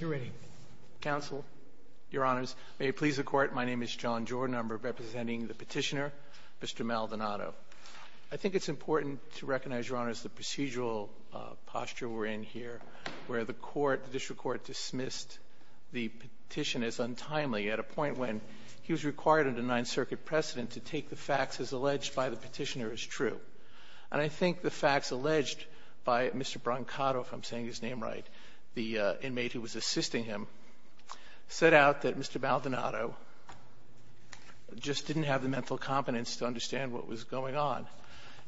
You're ready. Counsel, Your Honors, may it please the Court, my name is John Jordan. I'm representing the petitioner, Mr. Maldonado. I think it's important to recognize, Your Honors, the procedural posture we're in here, where the court, the district court, dismissed the petition as untimely, at a point when he was required under Ninth Circuit precedent to take the facts as alleged by the petitioner as true. And I think the facts alleged by Mr. Brancato, if I'm saying his name right, the inmate who was assisting him, set out that Mr. Maldonado just didn't have the mental competence to understand what was going on.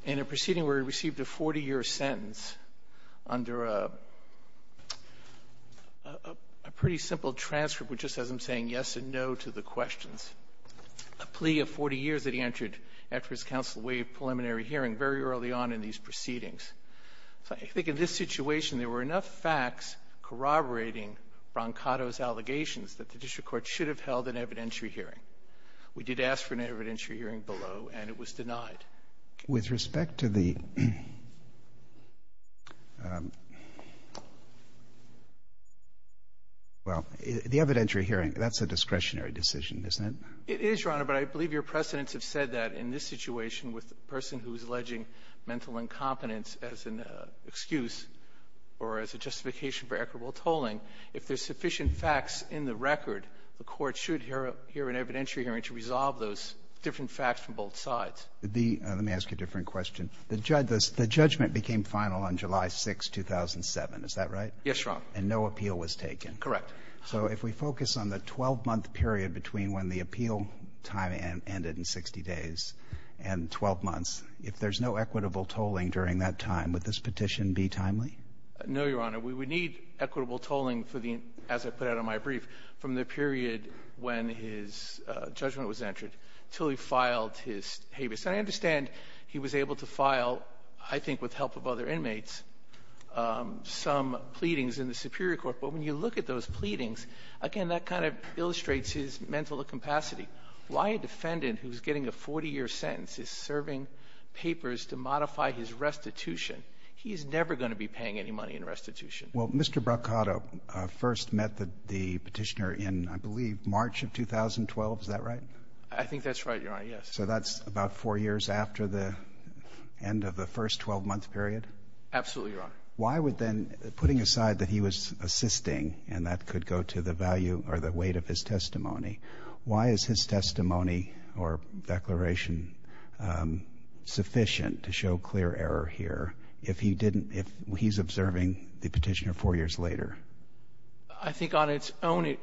In a proceeding where he received a 40-year sentence under a pretty simple transcript, which just says I'm saying yes and no to the questions, a plea of 40 years that he entered after his counsel waived preliminary hearing very early on in these proceedings. I think in this situation there were enough facts corroborating Brancato's allegations that the district court should have held an evidentiary hearing. We did ask for an evidentiary hearing below, and it was denied. With respect to the, well, the evidentiary hearing, that's a discretionary decision, isn't it? It is, Your Honor, but I believe your precedents have said that in this situation with the person who is alleging mental incompetence as an excuse or as a justification for equitable tolling, if there's sufficient facts in the record, the court should hear an evidentiary hearing to resolve those different facts from both sides. Let me ask you a different question. The judgment became final on July 6, 2007, is that right? Yes, Your Honor. And no appeal was taken? Correct. So if we focus on the 12-month period between when the appeal time ended in 60 days and 12 months, if there's no equitable tolling during that time, would this petition be timely? No, Your Honor. We would need equitable tolling for the, as I put out on my brief, from the period when his judgment was entered until he filed his habeas. And I understand he was able to file, I think with the help of other inmates, some pleadings in the Superior Court. But when you look at those pleadings, again, that kind of illustrates his mental incapacity. Why a defendant who's getting a 40-year sentence is serving papers to modify his restitution? He is never going to be paying any money in restitution. Well, Mr. Braccato first met the petitioner in, I believe, March of 2012, is that right? I think that's right, Your Honor, yes. So that's about four years after the end of the first 12-month period? Absolutely, Your Honor. Why would then, putting aside that he was assisting and that could go to the value or the weight of his testimony, why is his testimony or declaration sufficient to show clear error here if he didn't, if he's observing the petitioner four years later? I think on its own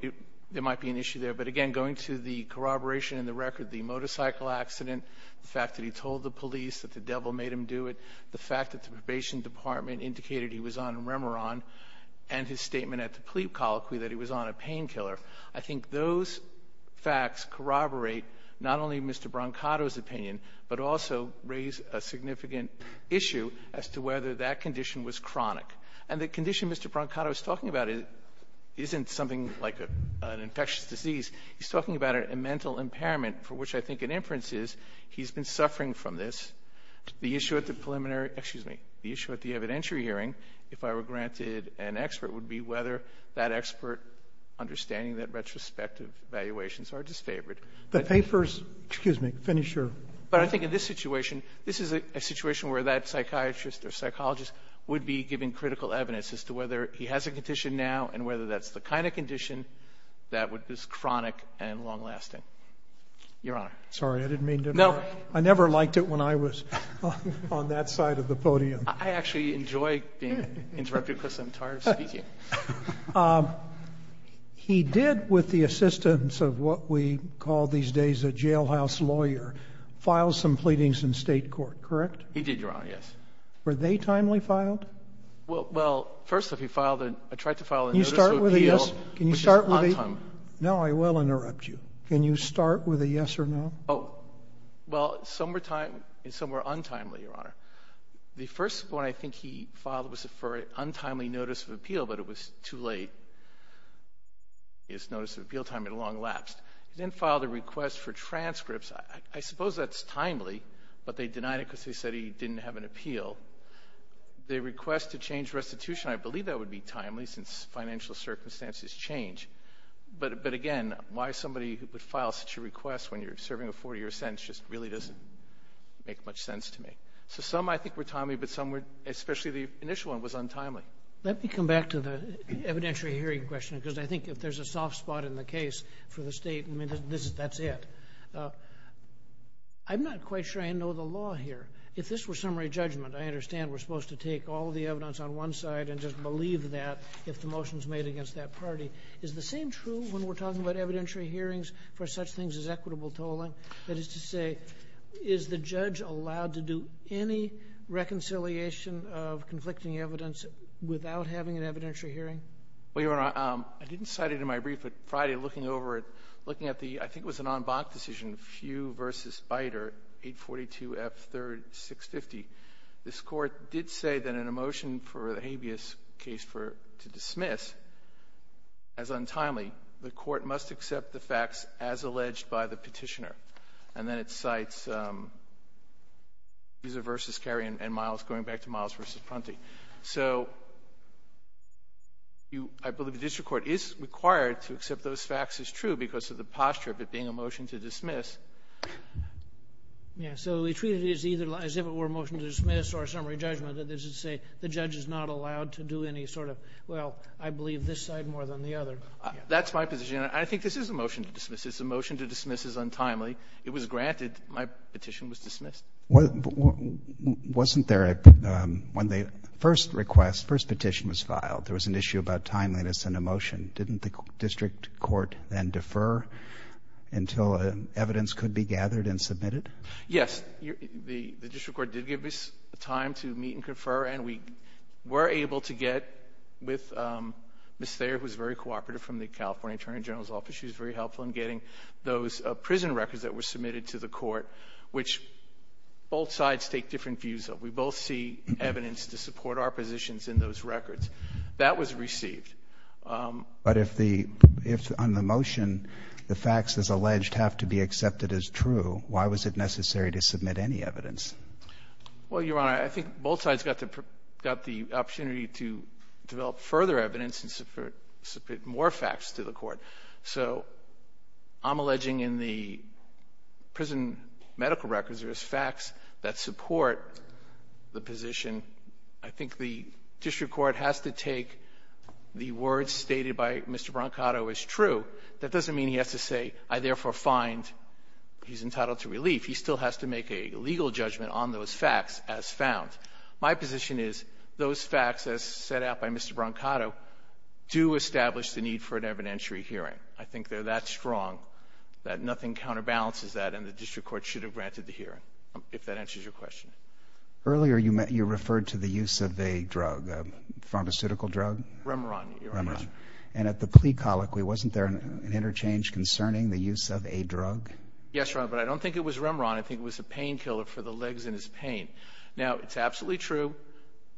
there might be an issue there. But, again, going to the corroboration in the record, the motorcycle accident, the fact that he told the police that the devil made him do it, the fact that the probation department indicated he was on Remeron and his statement at the plea colloquy that he was on a painkiller, I think those facts corroborate not only Mr. Braccato's opinion but also raise a significant issue as to whether that condition was chronic. And the condition Mr. Braccato is talking about isn't something like an infectious disease. He's talking about a mental impairment for which I think an inference is he's been suffering from this. The issue at the preliminary — excuse me, the issue at the evidentiary hearing, if I were granted an expert, would be whether that expert, understanding that retrospective evaluations are disfavored. The papers — excuse me, finish your — But I think in this situation, this is a situation where that psychiatrist or psychologist would be giving critical evidence as to whether he has a condition now and whether that's the kind of condition that is chronic and long-lasting. Your Honor. Sorry, I didn't mean to interrupt. No. I never liked it when I was on that side of the podium. I actually enjoy being interrupted because I'm tired of speaking. He did, with the assistance of what we call these days a jailhouse lawyer, file some pleadings in state court, correct? He did, Your Honor, yes. Were they timely filed? Well, first, I tried to file a notice of appeal. Can you start with a yes or no? No, I will interrupt you. Can you start with a yes or no? Well, some were timely and some were untimely, Your Honor. The first one I think he filed was for an untimely notice of appeal, but it was too late. His notice of appeal time had long elapsed. He then filed a request for transcripts. I suppose that's timely, but they denied it because they said he didn't have an appeal. The request to change restitution, I believe that would be timely since financial circumstances change. But, again, why somebody would file such a request when you're serving a 40-year sentence just really doesn't make much sense to me. So some, I think, were timely, but some were, especially the initial one, was untimely. Let me come back to the evidentiary hearing question because I think if there's a soft spot in the case for the state, I mean, that's it. I'm not quite sure I know the law here. If this were summary judgment, I understand we're supposed to take all the evidence on one side and just believe that if the motion is made against that party. Is the same true when we're talking about evidentiary hearings for such things as equitable tolling? That is to say, is the judge allowed to do any reconciliation of conflicting evidence without having an evidentiary hearing? Well, Your Honor, I didn't cite it in my brief, but Friday looking over it, looking at the, I think it was an en banc decision, Few v. Beiter, 842F3-650. This court did say that in a motion for the habeas case to dismiss, as untimely, the court must accept the facts as alleged by the petitioner. And then it cites Fuser v. Carey and Miles going back to Miles v. Prunty. So I believe the district court is required to accept those facts as true because of the posture of it being a motion to dismiss. Yeah, so we treat it as if it were a motion to dismiss or a summary judgment. Does it say the judge is not allowed to do any sort of, well, I believe this side more than the other? That's my position, and I think this is a motion to dismiss. It's a motion to dismiss as untimely. It was granted. My petition was dismissed. Wasn't there, when the first request, first petition was filed, there was an issue about timeliness in a motion. Didn't the district court then defer until evidence could be gathered and submitted? Yes. The district court did give us time to meet and confer, and we were able to get with Ms. Thayer, who is very cooperative from the California Attorney General's office. She was very helpful in getting those prison records that were submitted to the court, which both sides take different views of. We both see evidence to support our positions in those records. That was received. But if on the motion the facts, as alleged, have to be accepted as true, why was it necessary to submit any evidence? Well, Your Honor, I think both sides got the opportunity to develop further evidence and submit more facts to the court. So I'm alleging in the prison medical records there is facts that support the position. I think the district court has to take the words stated by Mr. Brancato as true. That doesn't mean he has to say, I therefore find he's entitled to relief. He still has to make a legal judgment on those facts as found. My position is those facts, as set out by Mr. Brancato, do establish the need for an evidentiary hearing. I think they're that strong that nothing counterbalances that, and the district court should have granted the hearing, if that answers your question. Earlier you referred to the use of a drug, a pharmaceutical drug. Remeron, Your Honor. And at the plea colloquy, wasn't there an interchange concerning the use of a drug? Yes, Your Honor, but I don't think it was Remeron. I think it was a painkiller for the legs and his pain. Now, it's absolutely true.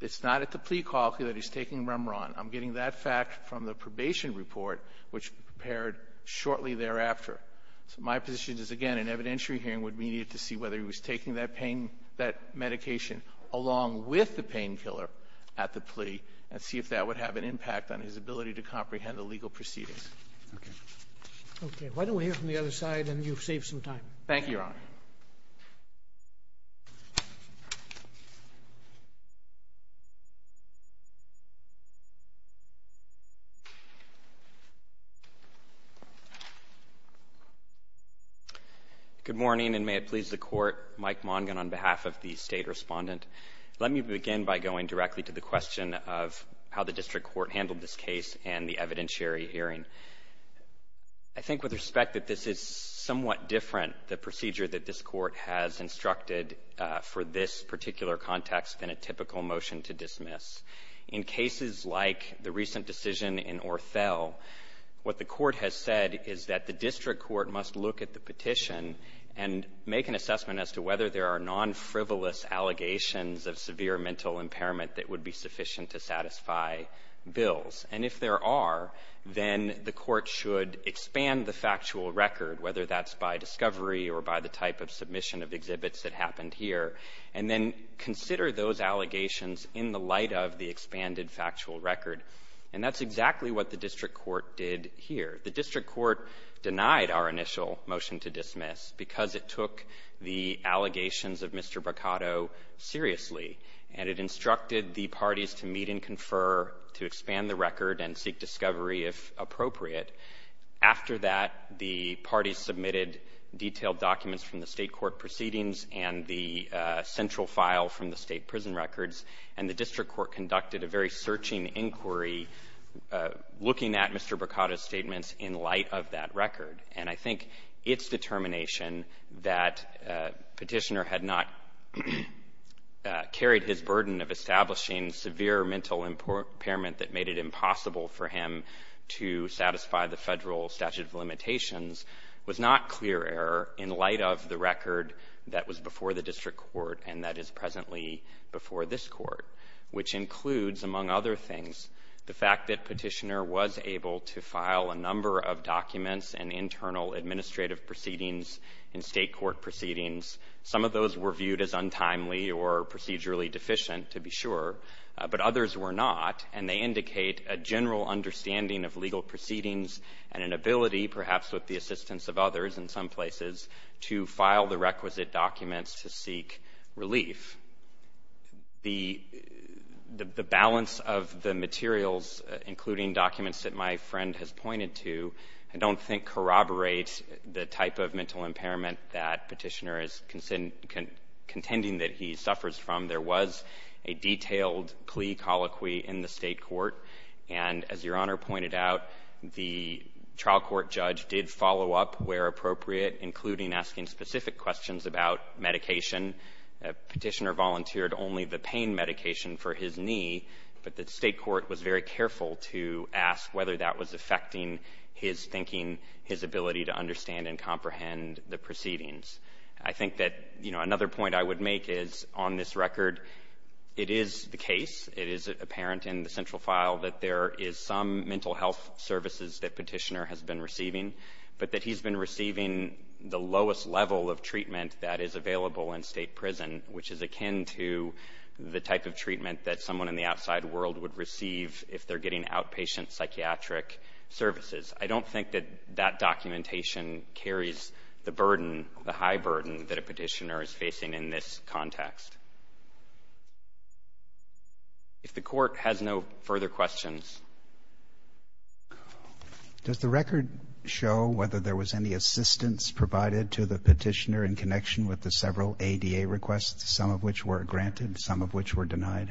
It's not at the plea colloquy that he's taking Remeron. I'm getting that fact from the probation report, which was prepared shortly thereafter. So my position is, again, an evidentiary hearing would be needed to see whether he was taking that pain, that medication along with the painkiller at the plea, and see if that would have an impact on his ability to comprehend the legal proceedings. Okay. Okay. Why don't we hear from the other side, and you've saved some time. Thank you, Your Honor. Thank you, Your Honor. Good morning, and may it please the Court. Mike Mongin on behalf of the State Respondent. Let me begin by going directly to the question of how the district court handled this case and the evidentiary hearing. I think with respect that this is somewhat different, the procedure that this court has instructed for this particular context than a typical motion to dismiss. In cases like the recent decision in Orthel, what the court has said is that the district court must look at the petition and make an assessment as to whether there are non-frivolous allegations of severe mental impairment that would be sufficient to satisfy bills. And if there are, then the court should expand the factual record, whether that's by discovery or by the type of submission of exhibits that happened here, and then consider those allegations in the light of the expanded factual record. And that's exactly what the district court did here. The district court denied our initial motion to dismiss because it took the allegations of Mr. Boccato seriously, and it instructed the parties to meet and confer to expand the record and seek discovery, if appropriate. After that, the parties submitted detailed documents from the state court proceedings and the central file from the state prison records, and the district court conducted a very searching inquiry looking at Mr. Boccato's statements in light of that record. And I think its determination that Petitioner had not carried his burden of establishing severe mental impairment that made it impossible for him to satisfy the federal statute of limitations was not clear error in light of the record that was before the district court and that is presently before this court, which includes, among other things, the fact that Petitioner was able to file a number of documents and internal administrative proceedings and state court proceedings. Some of those were viewed as untimely or procedurally deficient, to be sure, but others were not, and they indicate a general understanding of legal proceedings and an ability, perhaps with the assistance of others in some places, to file the requisite documents to seek relief. The balance of the materials, including documents that my friend has pointed to, I don't think corroborates the type of mental impairment that Petitioner is contending that he suffers from. There was a detailed plea colloquy in the state court, and as Your Honor pointed out, the trial court judge did follow up where appropriate, including asking specific questions about medication. Petitioner volunteered only the pain medication for his knee, but the state court was very careful to ask whether that was affecting his thinking, his ability to understand and comprehend the proceedings. I think that another point I would make is, on this record, it is the case, it is apparent in the central file that there is some mental health services that Petitioner has been receiving, but that he's been receiving the lowest level of treatment that is available in state prison, which is akin to the type of treatment that someone in the outside world would receive if they're getting outpatient psychiatric services. I don't think that that documentation carries the burden, the high burden that a petitioner is facing in this context. If the court has no further questions. Does the record show whether there was any assistance provided to the petitioner in connection with the several ADA requests, some of which were granted, some of which were denied?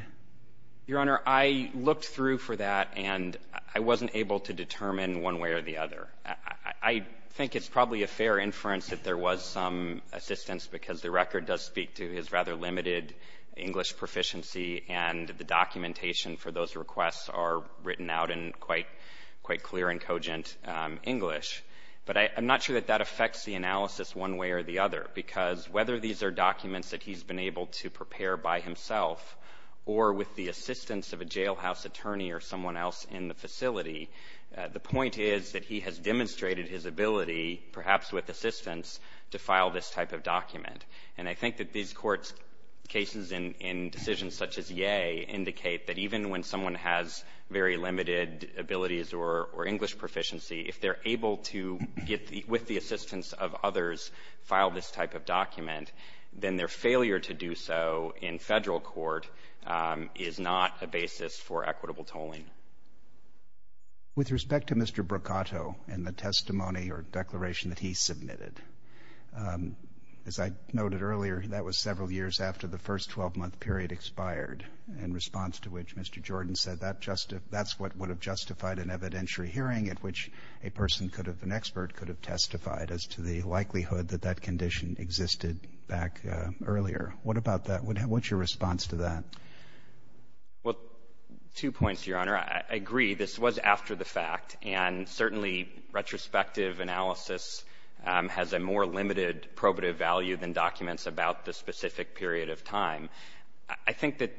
Your Honor, I looked through for that, and I wasn't able to determine one way or the other. I think it's probably a fair inference that there was some assistance, because the record does speak to his rather limited English proficiency, and the documentation for those requests are written out in quite clear and cogent English. But I'm not sure that that affects the analysis one way or the other, because whether these are documents that he's been able to prepare by himself or with the assistance of a jailhouse attorney or someone else in the facility, the point is that he has demonstrated his ability, perhaps with assistance, to file this type of document. And I think that these courts' cases in decisions such as Yea indicate that even when someone has very limited abilities or English proficiency, if they're able to, with the assistance of others, file this type of document, then their failure to do so in federal court is not a basis for equitable tolling. With respect to Mr. Bracato and the testimony or declaration that he submitted, as I noted earlier, that was several years after the first 12-month period expired, in response to which Mr. Jordan said that's what would have justified an evidentiary hearing at which a person could have, an expert could have testified as to the likelihood that that condition existed back earlier. What about that? What's your response to that? Well, two points, Your Honor. I agree this was after the fact, and certainly retrospective analysis has a more limited probative value than documents about the specific period of time. I think that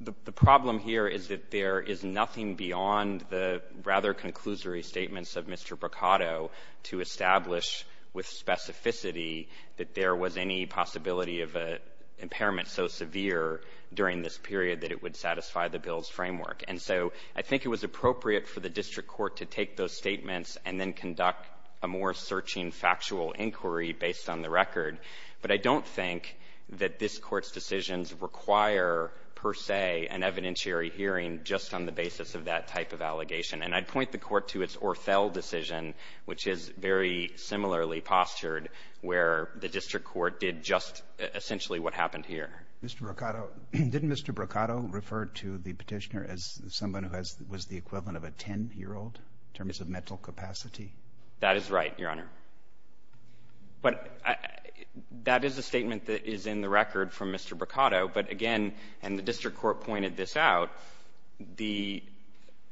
the problem here is that there is nothing beyond the rather conclusory statements of Mr. Bracato to establish with specificity that there was any possibility of an impairment so severe during this period that it would satisfy the bill's framework. And so I think it was appropriate for the district court to take those statements and then conduct a more searching factual inquiry based on the record. But I don't think that this Court's decisions require, per se, an evidentiary hearing just on the basis of that type of allegation. And I'd point the Court to its Orfell decision, which is very similarly postured where the district court did just essentially what happened here. Mr. Bracato, didn't Mr. Bracato refer to the petitioner as someone who was the equivalent of a 10-year-old in terms of mental capacity? That is right, Your Honor. But that is a statement that is in the record from Mr. Bracato. But again, and the district court pointed this out, the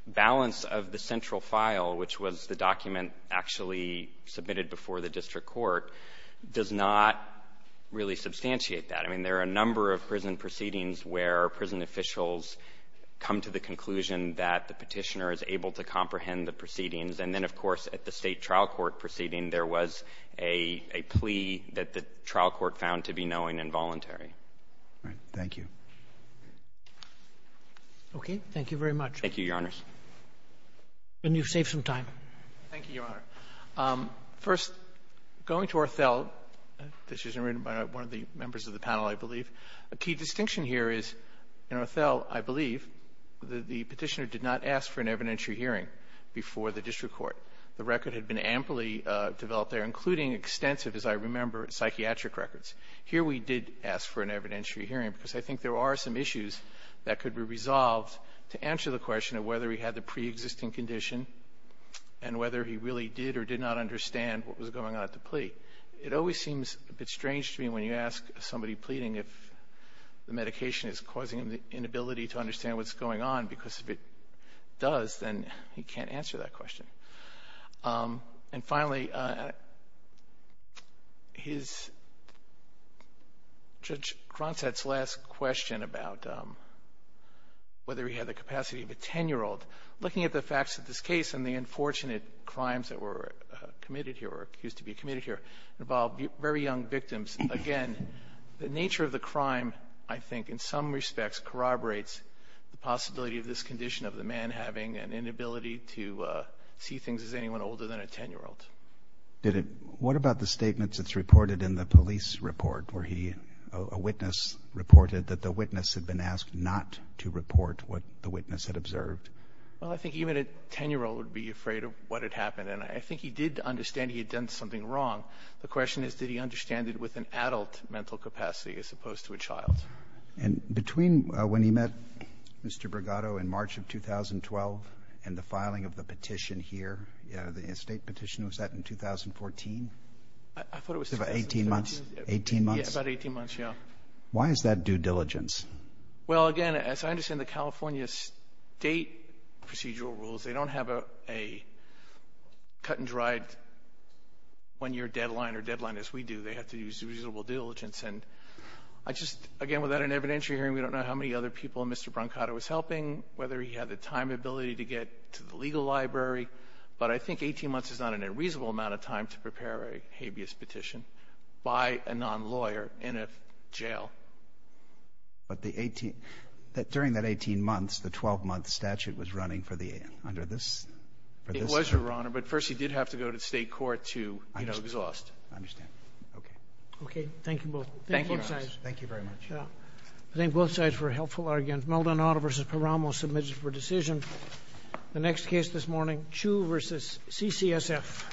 balance of the central file, which was the document actually submitted before the district court, does not really substantiate that. I mean, there are a number of prison proceedings where prison officials come to the conclusion that the petitioner is able to comprehend the proceedings. And then, of course, at the state trial court proceeding, there was a plea that the trial court found to be knowing and voluntary. All right. Thank you. Okay. Thank you very much. Thank you, Your Honors. And you've saved some time. Thank you, Your Honor. First, going to Othell, this is written by one of the members of the panel, I believe. A key distinction here is in Othell, I believe, the petitioner did not ask for an evidentiary hearing before the district court. The record had been amply developed there, including extensive, as I remember, psychiatric records. Here we did ask for an evidentiary hearing because I think there are some issues that could be resolved to answer the question of whether he had the preexisting condition and whether he really did or did not understand what was going on at the plea. It always seems a bit strange to me when you ask somebody pleading if the medication is causing him the inability to understand what's going on because if it does, then he can't answer that question. And finally, Judge Cronstadt's last question about whether he had the capacity of a 10-year-old, looking at the facts of this case and the unfortunate crimes that were committed here or are accused to be committed here involved very young victims. Again, the nature of the crime, I think, in some respects corroborates the possibility of this condition of the man having an inability to see things as anyone older than a 10-year-old. What about the statements that's reported in the police report where a witness reported that the witness had been asked not to report what the witness had observed? Well, I think even a 10-year-old would be afraid of what had happened, and I think he did understand he had done something wrong. The question is did he understand it with an adult mental capacity as opposed to a child. And between when he met Mr. Bregado in March of 2012 and the filing of the petition here, the estate petition, was that in 2014? I thought it was 2013. About 18 months? Yeah, about 18 months, yeah. Why is that due diligence? Well, again, as I understand the California state procedural rules, they don't have a cut-and-dried one-year deadline or deadline as we do. They have to use reasonable diligence. And I just, again, without an evidentiary hearing, we don't know how many other people Mr. Bregado was helping, whether he had the time ability to get to the legal library. But I think 18 months is not an unreasonable amount of time to prepare a habeas petition by a non-lawyer in a jail. But during that 18 months, the 12-month statute was running under this statute? It was, Your Honor, but first he did have to go to state court to exhaust. I understand. Okay. Okay, thank you both. Thank you, Your Honor. Thank you very much. I thank both sides for a helpful argument. Maldonado v. Paramo submits for decision. The next case this morning, Chu v. CCSF.